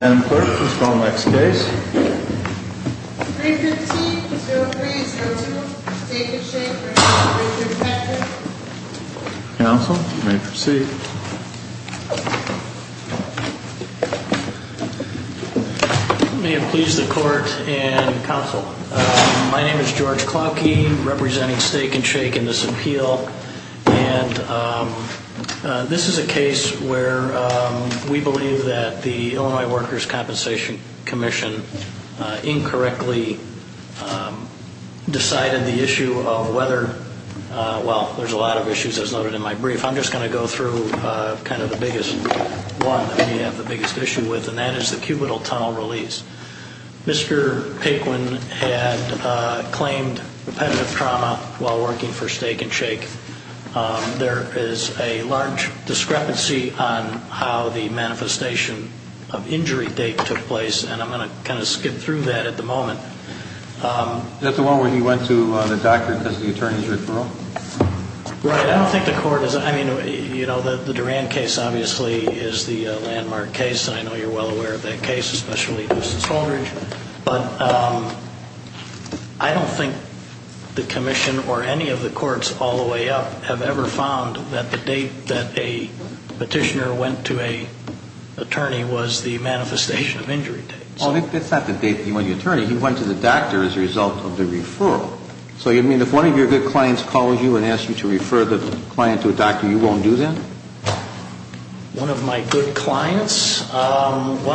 Madam Clerk, let's go to the next case. 315-0302 Steak n Shake v. Workers' Compensation Counsel, you may proceed. May it please the Court and Counsel, my name is George Klauke, representing Steak n Shake in this appeal. And this is a case where we believe that the Illinois Workers' Compensation Commission incorrectly decided the issue of whether, well, there's a lot of issues as noted in my brief, I'm just going to go through kind of the biggest one that we have the biggest issue with, and that is the cubital tunnel release. Mr. Paquin had claimed repetitive trauma while working for Steak n Shake. There is a large discrepancy on how the manifestation of injury date took place, and I'm going to kind of skim through that at the moment. Is that the one where he went to the doctor because of the attorney's referral? Right, I don't think the Court is, I mean, you know, the Duran case obviously is the landmark case, and I know you're well aware of that case, especially Houston Stolbridge, but I don't think the Commission or any of the courts all the way up have ever found that the date that a petitioner went to an attorney was the manifestation of injury date. Well, that's not the date he went to the attorney, he went to the doctor as a result of the referral. So you mean if one of your good clients calls you and asks you to refer the client to a doctor, you won't do that? One of my good clients? What's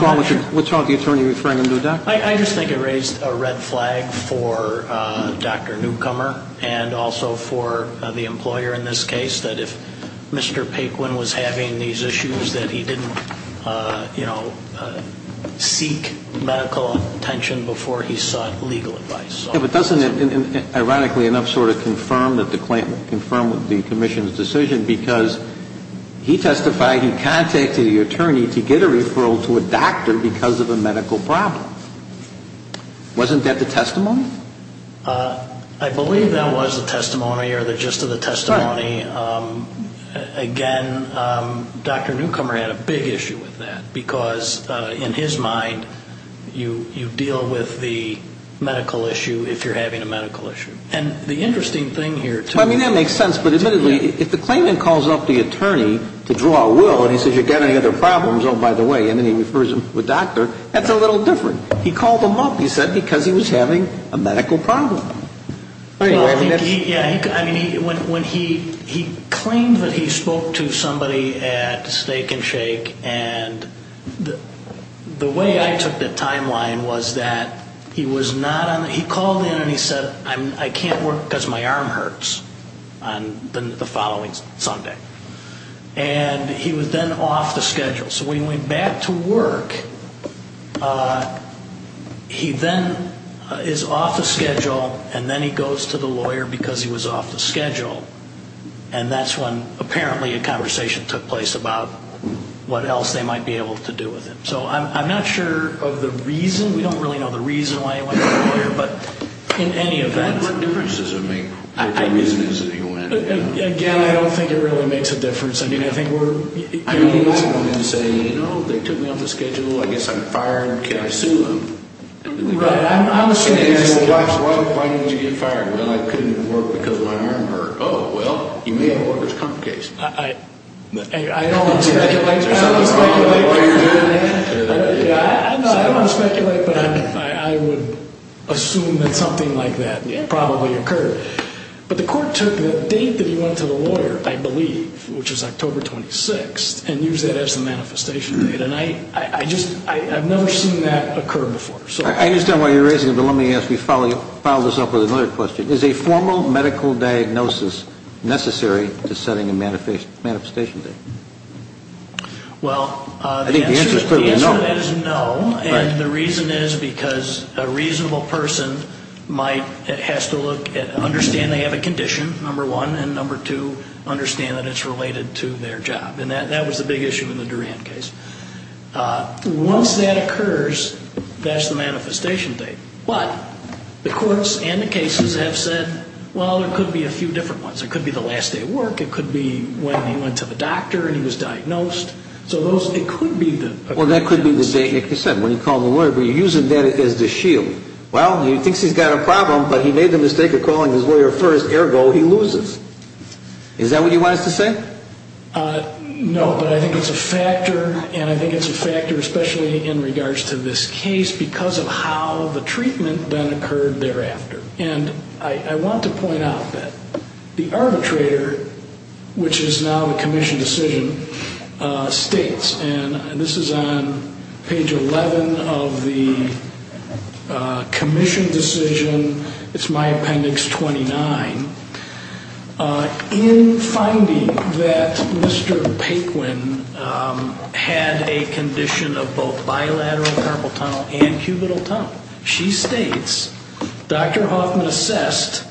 wrong with the attorney referring him to a doctor? I just think it raised a red flag for Dr. Newcomer and also for the employer in this case that if Mr. Paquin was having these issues that he didn't, you know, seek medical attention before he sought legal advice. Yeah, but doesn't it, ironically enough, sort of confirm that the claim, confirm the Commission's decision, because he testified, he contacted the attorney to get a referral to a doctor because of a medical problem. Wasn't that the testimony? I believe that was the testimony or the gist of the testimony. Right. Again, Dr. Newcomer had a big issue with that because, in his mind, you deal with the medical issue if you're having a medical issue. And the interesting thing here, too. I mean, that makes sense, but admittedly, if the claimant calls up the attorney to draw a will and he says, have you got any other problems, oh, by the way, and then he refers him to a doctor, that's a little different. He called him up, he said, because he was having a medical problem. Yeah, I mean, when he claimed that he spoke to somebody at Steak and Shake, and the way I took the timeline was that he was not on, he called in and he said, I can't work because my arm hurts on the following Sunday. And he was then off the schedule. So when he went back to work, he then is off the schedule, and then he goes to the lawyer because he was off the schedule. And that's when, apparently, a conversation took place about what else they might be able to do with him. So I'm not sure of the reason. We don't really know the reason why he went to the lawyer, but in any event. What difference does it make what the reason is that he went? Again, I don't think it really makes a difference. I mean, I wouldn't say, you know, they took me off the schedule, I guess I'm fired, can I sue them? Right, I'm assuming that's the case. Why didn't you get fired? Well, I couldn't work because my arm hurt. Oh, well, you may have a workers' comp case. I don't want to speculate, but I would assume that something like that probably occurred. But the court took the date that he went to the lawyer, I believe, which was October 26th, and used that as the manifestation date. And I just, I've never seen that occur before. I understand why you're raising it, but let me ask you, follow this up with another question. Is a formal medical diagnosis necessary to setting a manifestation date? Well, the answer is no. And the reason is because a reasonable person might, has to look at, understand they have a condition, number one, and number two, understand that it's related to their job. And that was the big issue in the Duran case. Once that occurs, that's the manifestation date. But the courts and the cases have said, well, there could be a few different ones. It could be the last day of work. Well, that could be the date, like you said, when he called the lawyer, but you're using that as the shield. Well, he thinks he's got a problem, but he made the mistake of calling his lawyer first. Ergo, he loses. Is that what you want us to say? No, but I think it's a factor, and I think it's a factor, especially in regards to this case, because of how the treatment then occurred thereafter. And I want to point out that the arbitrator, which is now the commission decision, states, and this is on page 11 of the commission decision, it's my appendix 29. In finding that Mr. Paquin had a condition of both bilateral carpal tunnel and cubital tunnel, she states, Dr. Hoffman assessed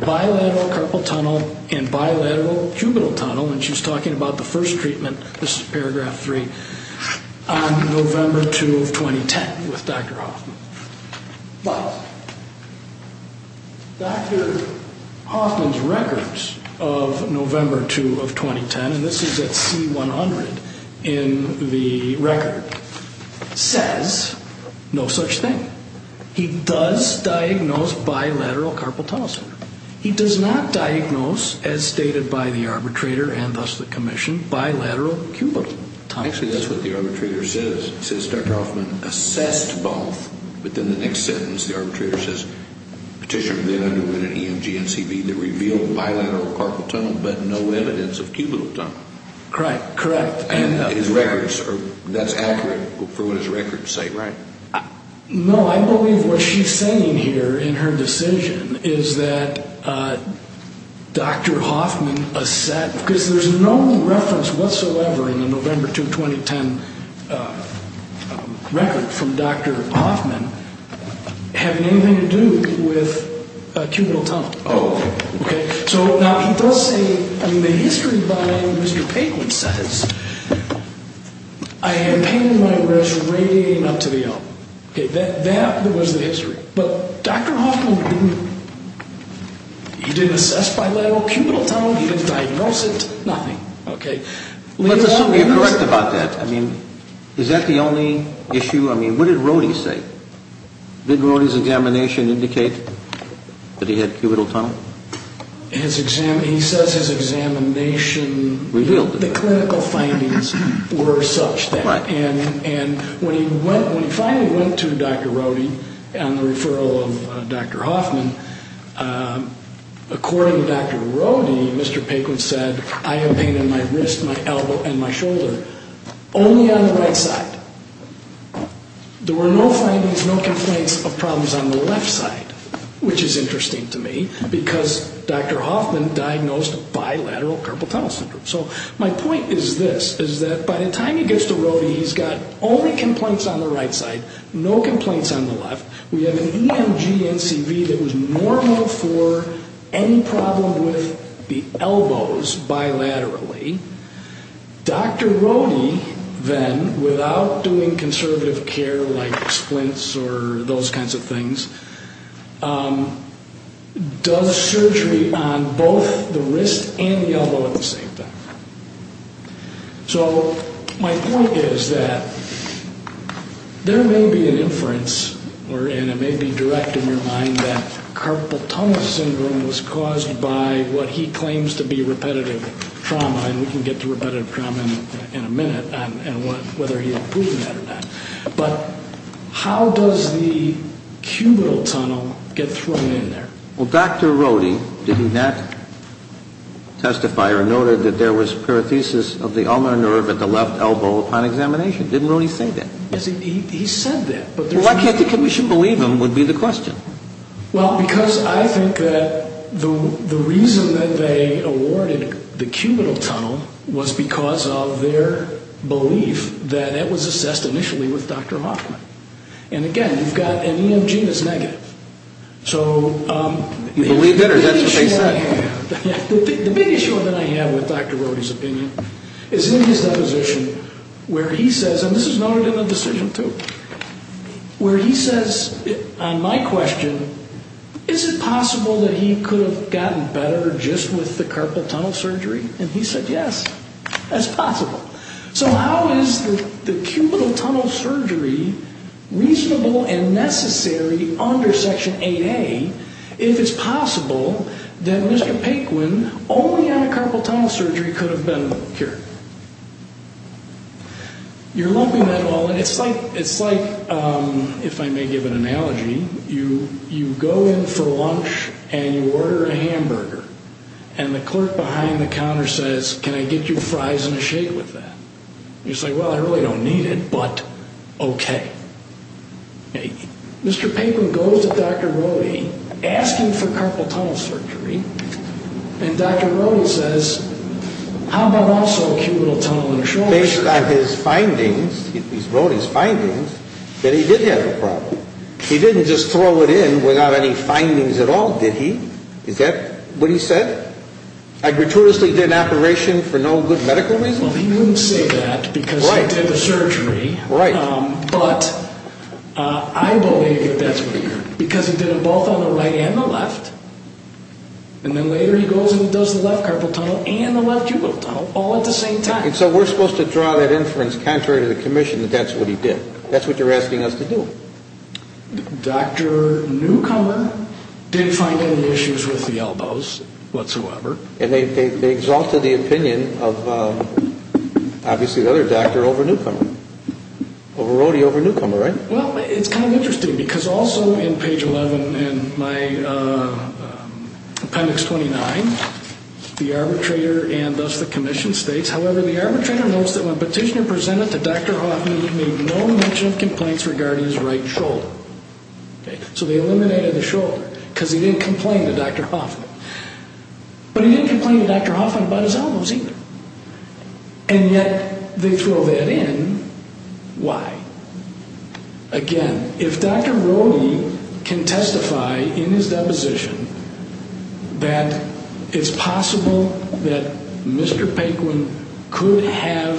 bilateral carpal tunnel and bilateral cubital tunnel, and she's talking about the first treatment, this is paragraph 3, on November 2 of 2010 with Dr. Hoffman. But Dr. Hoffman's records of November 2 of 2010, and this is at C100 in the record, says no such thing. He does diagnose bilateral carpal tunnel syndrome. He does not diagnose, as stated by the arbitrator and thus the commission, bilateral cubital tunnel syndrome. Actually, that's what the arbitrator says. He says Dr. Hoffman assessed both, but then the next sentence the arbitrator says, Petitioner then underwent an EMG and CV that revealed bilateral carpal tunnel, but no evidence of cubital tunnel. Correct, correct. And his records, that's accurate for what his records say, right? No, I believe what she's saying here in her decision is that Dr. Hoffman assessed, because there's no reference whatsoever in the November 2, 2010 record from Dr. Hoffman having anything to do with cubital tunnel. Oh. Okay, so now he does say, I mean, the history by Mr. Paquin says, I am pained by resurrecting up to the L. Okay, that was the history. But Dr. Hoffman didn't, he didn't assess bilateral cubital tunnel, he didn't diagnose it, nothing. Okay. Let's assume you're correct about that. I mean, is that the only issue? I mean, what did Rohde say? Did Rohde's examination indicate that he had cubital tunnel? His exam, he says his examination revealed that clinical findings were such that. Right. And when he finally went to Dr. Rohde on the referral of Dr. Hoffman, according to Dr. Rohde, Mr. Paquin said, I am pained in my wrist, my elbow, and my shoulder, only on the right side. There were no findings, no complaints of problems on the left side, which is interesting to me, because Dr. Hoffman diagnosed bilateral cubital tunnel syndrome. So my point is this, is that by the time he gets to Rohde, he's got only complaints on the right side, no complaints on the left. We have an EMG-NCV that was normal for any problem with the elbows bilaterally. Dr. Rohde then, without doing conservative care like splints or those kinds of things, does surgery on both the wrist and the elbow at the same time. So my point is that there may be an inference, and it may be direct in your mind, that carpal tunnel syndrome was caused by what he claims to be repetitive trauma, and we can get to repetitive trauma in a minute, whether he had proven that or not. But how does the cubital tunnel get thrown in there? Well, Dr. Rohde did not testify or noted that there was parathesis of the ulnar nerve at the left elbow upon examination. Didn't Rohde say that? He said that. Well, I can't think that we should believe him would be the question. Well, because I think that the reason that they awarded the cubital tunnel was because of their belief that that was assessed initially with Dr. Hoffman. And again, you've got an EMG that's negative. So the big issue that I have with Dr. Rohde's opinion is in his deposition where he says, and this is noted in the decision too, where he says on my question, is it possible that he could have gotten better just with the carpal tunnel surgery? And he said yes, that's possible. So how is the cubital tunnel surgery reasonable and necessary under Section 8A if it's possible that Mr. Paquin, only on a carpal tunnel surgery, could have been cured? You're lumping that all in. It's like, if I may give an analogy, you go in for lunch and you order a hamburger and the clerk behind the counter says, can I get you fries and a shake with that? And you say, well, I really don't need it, but okay. Mr. Paquin goes to Dr. Rohde asking for carpal tunnel surgery and Dr. Rohde says, how about also cubital tunnel insurance? Based on his findings, he wrote his findings, that he did have a problem. He didn't just throw it in without any findings at all, did he? Is that what he said? I gratuitously did an operation for no good medical reason? Well, he wouldn't say that because he did the surgery, but I believe that that's what he did because he did it both on the right and the left. And then later he goes and does the left carpal tunnel and the left cubital tunnel all at the same time. And so we're supposed to draw that inference contrary to the commission that that's what he did. That's what you're asking us to do. Dr. Newcomer didn't find any issues with the elbows whatsoever. And they exalted the opinion of obviously the other doctor over Newcomer, over Rohde over Newcomer, right? Well, it's kind of interesting because also in page 11 in my appendix 29, the arbitrator and thus the commission states, however, the arbitrator notes that when Petitioner presented to Dr. Hoffman, he made no mention of complaints regarding his right shoulder. So they eliminated the shoulder because he didn't complain to Dr. Hoffman. But he didn't complain to Dr. Hoffman about his elbows either. And yet they throw that in. Why? Again, if Dr. Rohde can testify in his deposition that it's possible that Mr. Paquin could have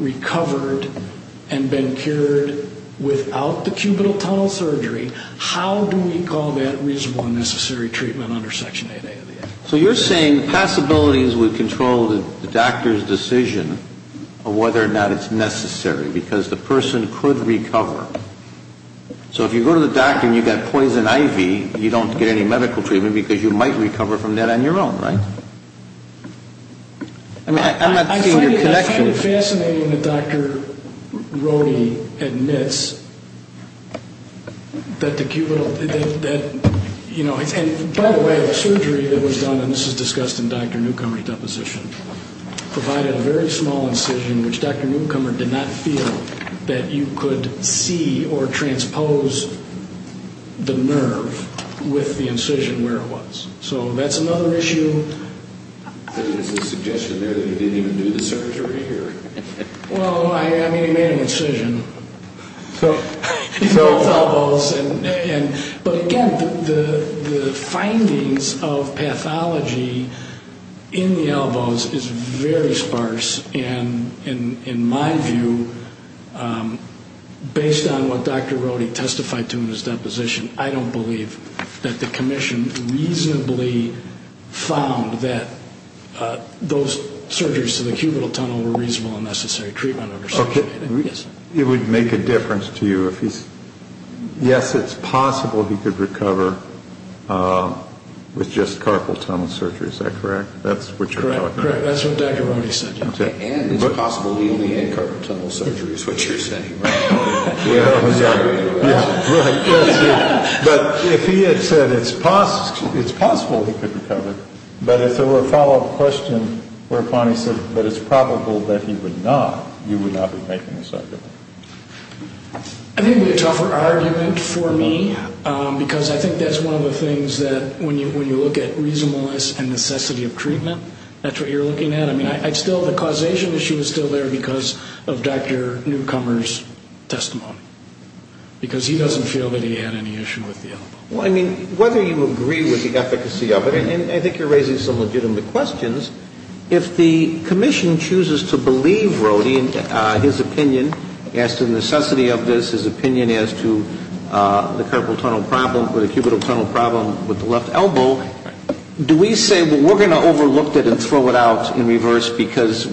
recovered and been cured without the cubital tunnel surgery, how do we call that reasonable and necessary treatment under Section 8A of the Act? So you're saying possibilities would control the doctor's decision of whether or not it's necessary because the person could recover. So if you go to the doctor and you've got poison ivy, you don't get any medical treatment because you might recover from that on your own, right? I find it fascinating that Dr. Rohde admits that the cubital, that, you know, and by the way, the surgery that was done, and this is discussed in Dr. Newcomer's deposition, provided a very small incision which Dr. Newcomer did not feel that you could see or transpose the nerve with the incision where it was. So that's another issue. There's a suggestion there that he didn't even do the surgery here. Well, I mean, he made an incision in both elbows, but again, the findings of pathology in the elbows is very sparse, and in my view, based on what Dr. Rohde testified to in his deposition, I don't believe that the commission reasonably found that those surgeries to the cubital tunnel were reasonable and necessary treatment. It would make a difference to you. Yes, it's possible he could recover with just carpal tunnel surgery. Is that correct? That's what Dr. Rohde said. And it's possible he only had carpal tunnel surgery is what you're saying, right? Yeah, right. But if he had said it's possible he could recover, but if there were a follow-up question where Pani said that it's probable that he would not, you would not be making this argument. I think it would be a tougher argument for me, because I think that's one of the things that when you look at reasonableness and necessity of treatment, that's what you're looking at. I mean, the causation issue is still there because of Dr. Newcomer's testimony, because he doesn't feel that he had any issue with the elbow. Well, I mean, whether you agree with the efficacy of it, and I think you're raising some legitimate questions, if the commission chooses to believe Rohde in his opinion as to the necessity of this, his opinion as to the carpal tunnel problem or the cubital tunnel problem with the left elbow, do we say, well, we're going to overlook it and throw it out in reverse because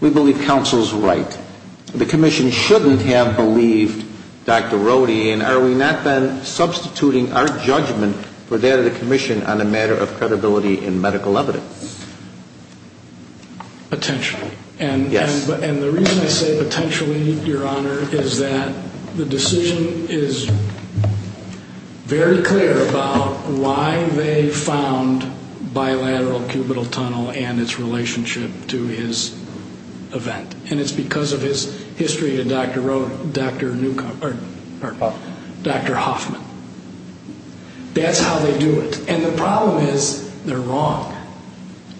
we believe counsel's right? The commission shouldn't have believed Dr. Rohde, and are we not then substituting our judgment for that of the commission on a matter of credibility and medical evidence? Potentially. Yes. And the reason I say potentially, Your Honor, is that the decision is very clear about why they found bilateral cubital tunnel and its relationship to his event, and it's because of his history to Dr. Rohde, Dr. Newcomer, or Dr. Hoffman. That's how they do it. And the problem is they're wrong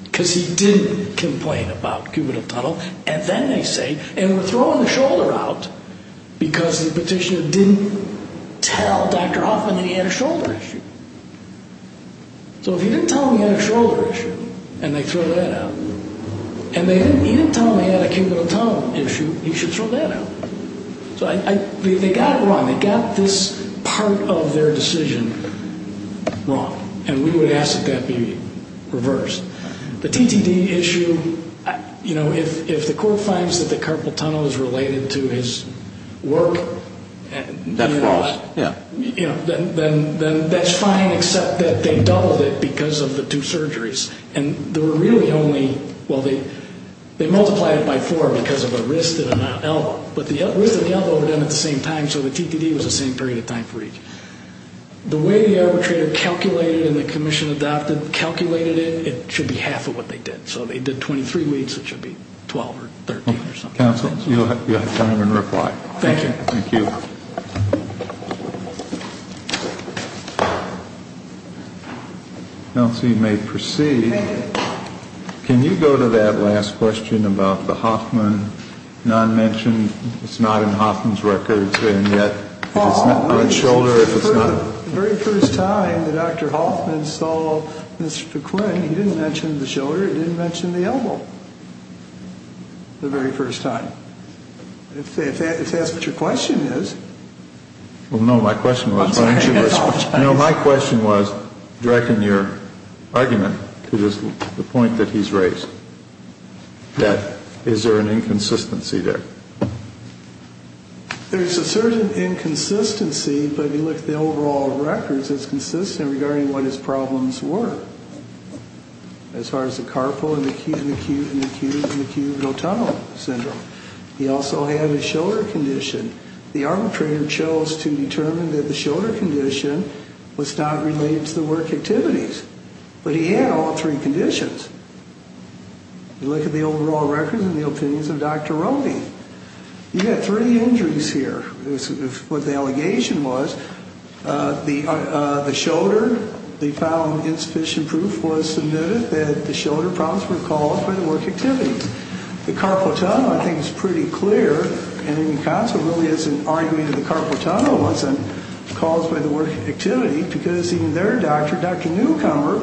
because he didn't complain about cubital tunnel, and then they say, and we're throwing the shoulder out because the petitioner didn't tell Dr. Hoffman that he had a shoulder issue. So if he didn't tell him he had a shoulder issue and they throw that out, and he didn't tell him he had a cubital tunnel issue, he should throw that out. So they got it wrong. They got this part of their decision wrong, and we would ask that that be reversed. The TTD issue, you know, if the court finds that the carpal tunnel is related to his work, you know, then that's fine except that they doubled it because of the two surgeries. And there were really only, well, they multiplied it by four because of a wrist and an elbow, but the wrist and the elbow were done at the same time, so the TTD was the same period of time for each. The way the arbitrator calculated and the commission adopted calculated it, it should be half of what they did. So they did 23 weeks. It should be 12 or 13 or something. Counsel, you'll have time and reply. Thank you. Thank you. Kelsey may proceed. Can you go to that last question about the Hoffman non-mention? It's not in Hoffman's records, and yet if it's not on the shoulder, if it's not... The very first time that Dr. Hoffman saw Mr. McQueen, he didn't mention the shoulder. He didn't mention the elbow the very first time. If that's what your question is... Well, no, my question was... I'm sorry, I apologize. There's a certain inconsistency, but if you look at the overall records, it's consistent regarding what his problems were, as far as the carpal and the acute and acute and acute and acute and acute tunnel syndrome. He also had a shoulder condition. The arbitrator chose to determine that the shoulder condition was not related to the work activities, but he had all three conditions. If you look at the overall records and the opinions of Dr. Roney, you've got three injuries here. What the allegation was, the shoulder, they found insufficient proof was submitted that the shoulder problems were caused by the work activities. The carpal tunnel, I think, is pretty clear, and in the concept really is an argument that the carpal tunnel wasn't caused by the work activity because even their doctor, Dr. Newcomer,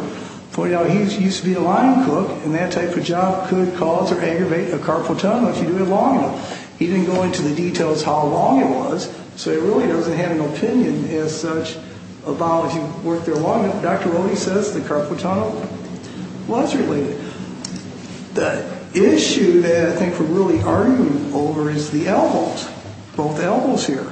pointed out he used to be a line cook, and that type of job could cause or aggravate a carpal tunnel if you do it long enough. He didn't go into the details how long it was, so he really doesn't have an opinion as such about if you work there long enough. Dr. Roney says the carpal tunnel was related. The issue that I think we're really arguing over is the elbows, both elbows here.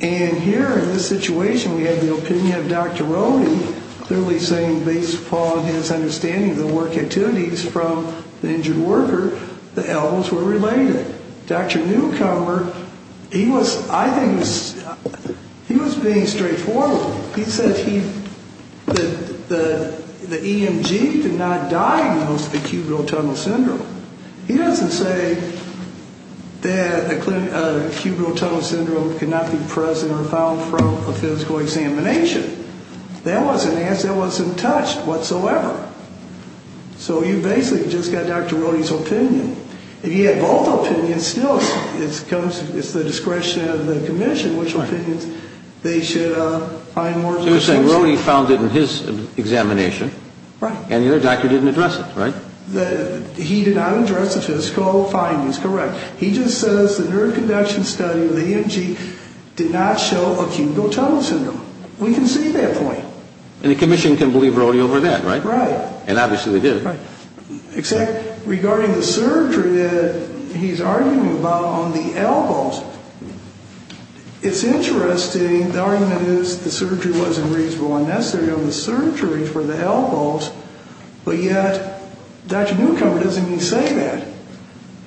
And here in this situation we have the opinion of Dr. Roney clearly saying based upon his understanding of the work activities from the injured worker, the elbows were related. Dr. Newcomer, he was, I think, he was being straightforward. He said he, the EMG did not diagnose the cubital tunnel syndrome. He doesn't say that cubital tunnel syndrome cannot be present or found from a physical examination. That wasn't asked. That wasn't touched whatsoever. So you basically just got Dr. Roney's opinion. If he had both opinions, still it's the discretion of the commission which opinions they should find more conclusive. So you're saying Roney found it in his examination and the other doctor didn't address it, right? He did not address the physical findings, correct. He just says the neuroconduction study of the EMG did not show cubital tunnel syndrome. We can see that point. And the commission can believe Roney over that, right? Right. And obviously they did. Right. Except regarding the surgery that he's arguing about on the elbows, it's interesting. The argument is the surgery wasn't reasonable and necessary. But yet Dr. Newcomer doesn't even say that.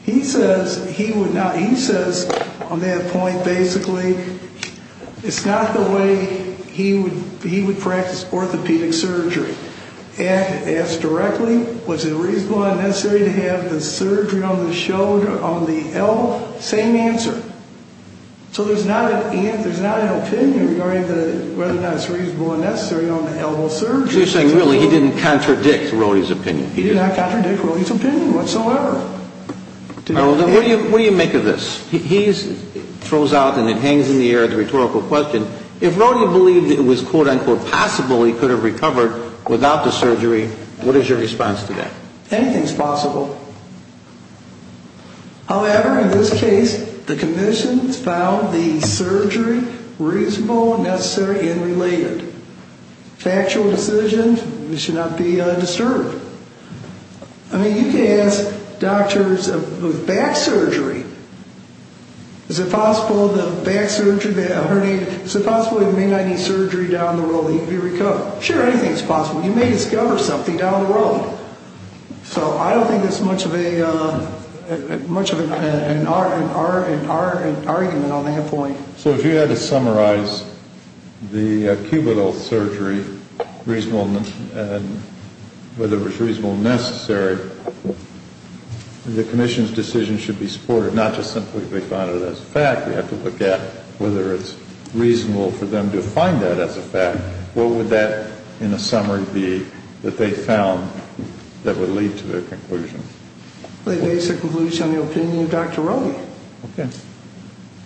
He says he would not, he says on that point basically it's not the way he would practice orthopedic surgery. Asked directly was it reasonable and necessary to have the surgery on the shoulder, on the elbow? Same answer. So there's not an opinion regarding whether or not it's reasonable and necessary on the elbow surgery. So you're saying really he didn't contradict Roney's opinion. He did not contradict Roney's opinion whatsoever. What do you make of this? He throws out and it hangs in the air the rhetorical question. If Roney believed it was, quote, unquote, possible he could have recovered without the surgery, what is your response to that? Anything's possible. However, in this case the commission found the surgery reasonable, necessary, and related. Factual decisions should not be disturbed. I mean you can ask doctors of back surgery, is it possible the back surgery, the herniated, is it possible he may not need surgery down the road and he can be recovered? Sure, anything's possible. You may discover something down the road. So I don't think there's much of an argument on that point. So if you had to summarize the cubital surgery, whether it was reasonable and necessary, the commission's decision should be supported. Not just simply they found it as a fact. We have to look at whether it's reasonable for them to find that as a fact. What would that, in a summary, be that they found that would lead to their conclusion? They base their conclusion on the opinion of Dr. Roney. Okay.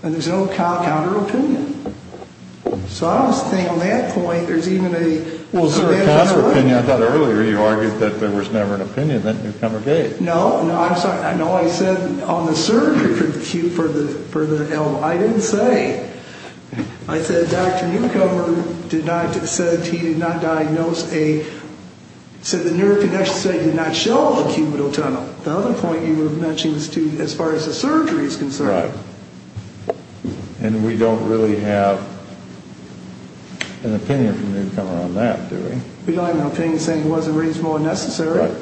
And there's no counter-opinion. So I don't think on that point there's even a... Well, is there a counter-opinion? I thought earlier you argued that there was never an opinion that Newcomer gave. No, no, I said on the surgery for the L, I didn't say. I said Dr. Newcomer did not, said he did not diagnose a, said the neurocognitive study did not show a cubital tunnel. The other point you were mentioning as far as the surgery is concerned. Right. And we don't really have an opinion from Newcomer on that, do we? We don't have an opinion saying it wasn't reasonable and necessary. Right.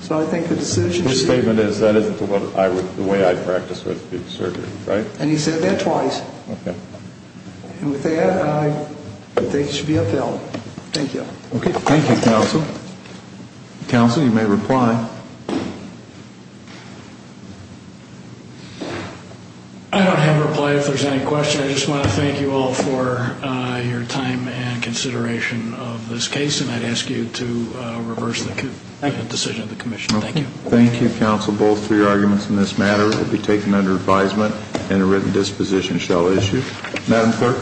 So I think the decision should be... His statement is that isn't the way I'd practice with the surgery, right? And he said that twice. Okay. And with that, I think it should be upheld. Thank you. Okay. Thank you, counsel. Counsel, you may reply. I don't have a reply if there's any question. I just want to thank you all for your time and consideration of this case, and I'd ask you to reverse the decision of the commission. Thank you. Thank you, counsel. The motion on both three arguments in this matter will be taken under advisement and a written disposition shall issue. Madam Clerk.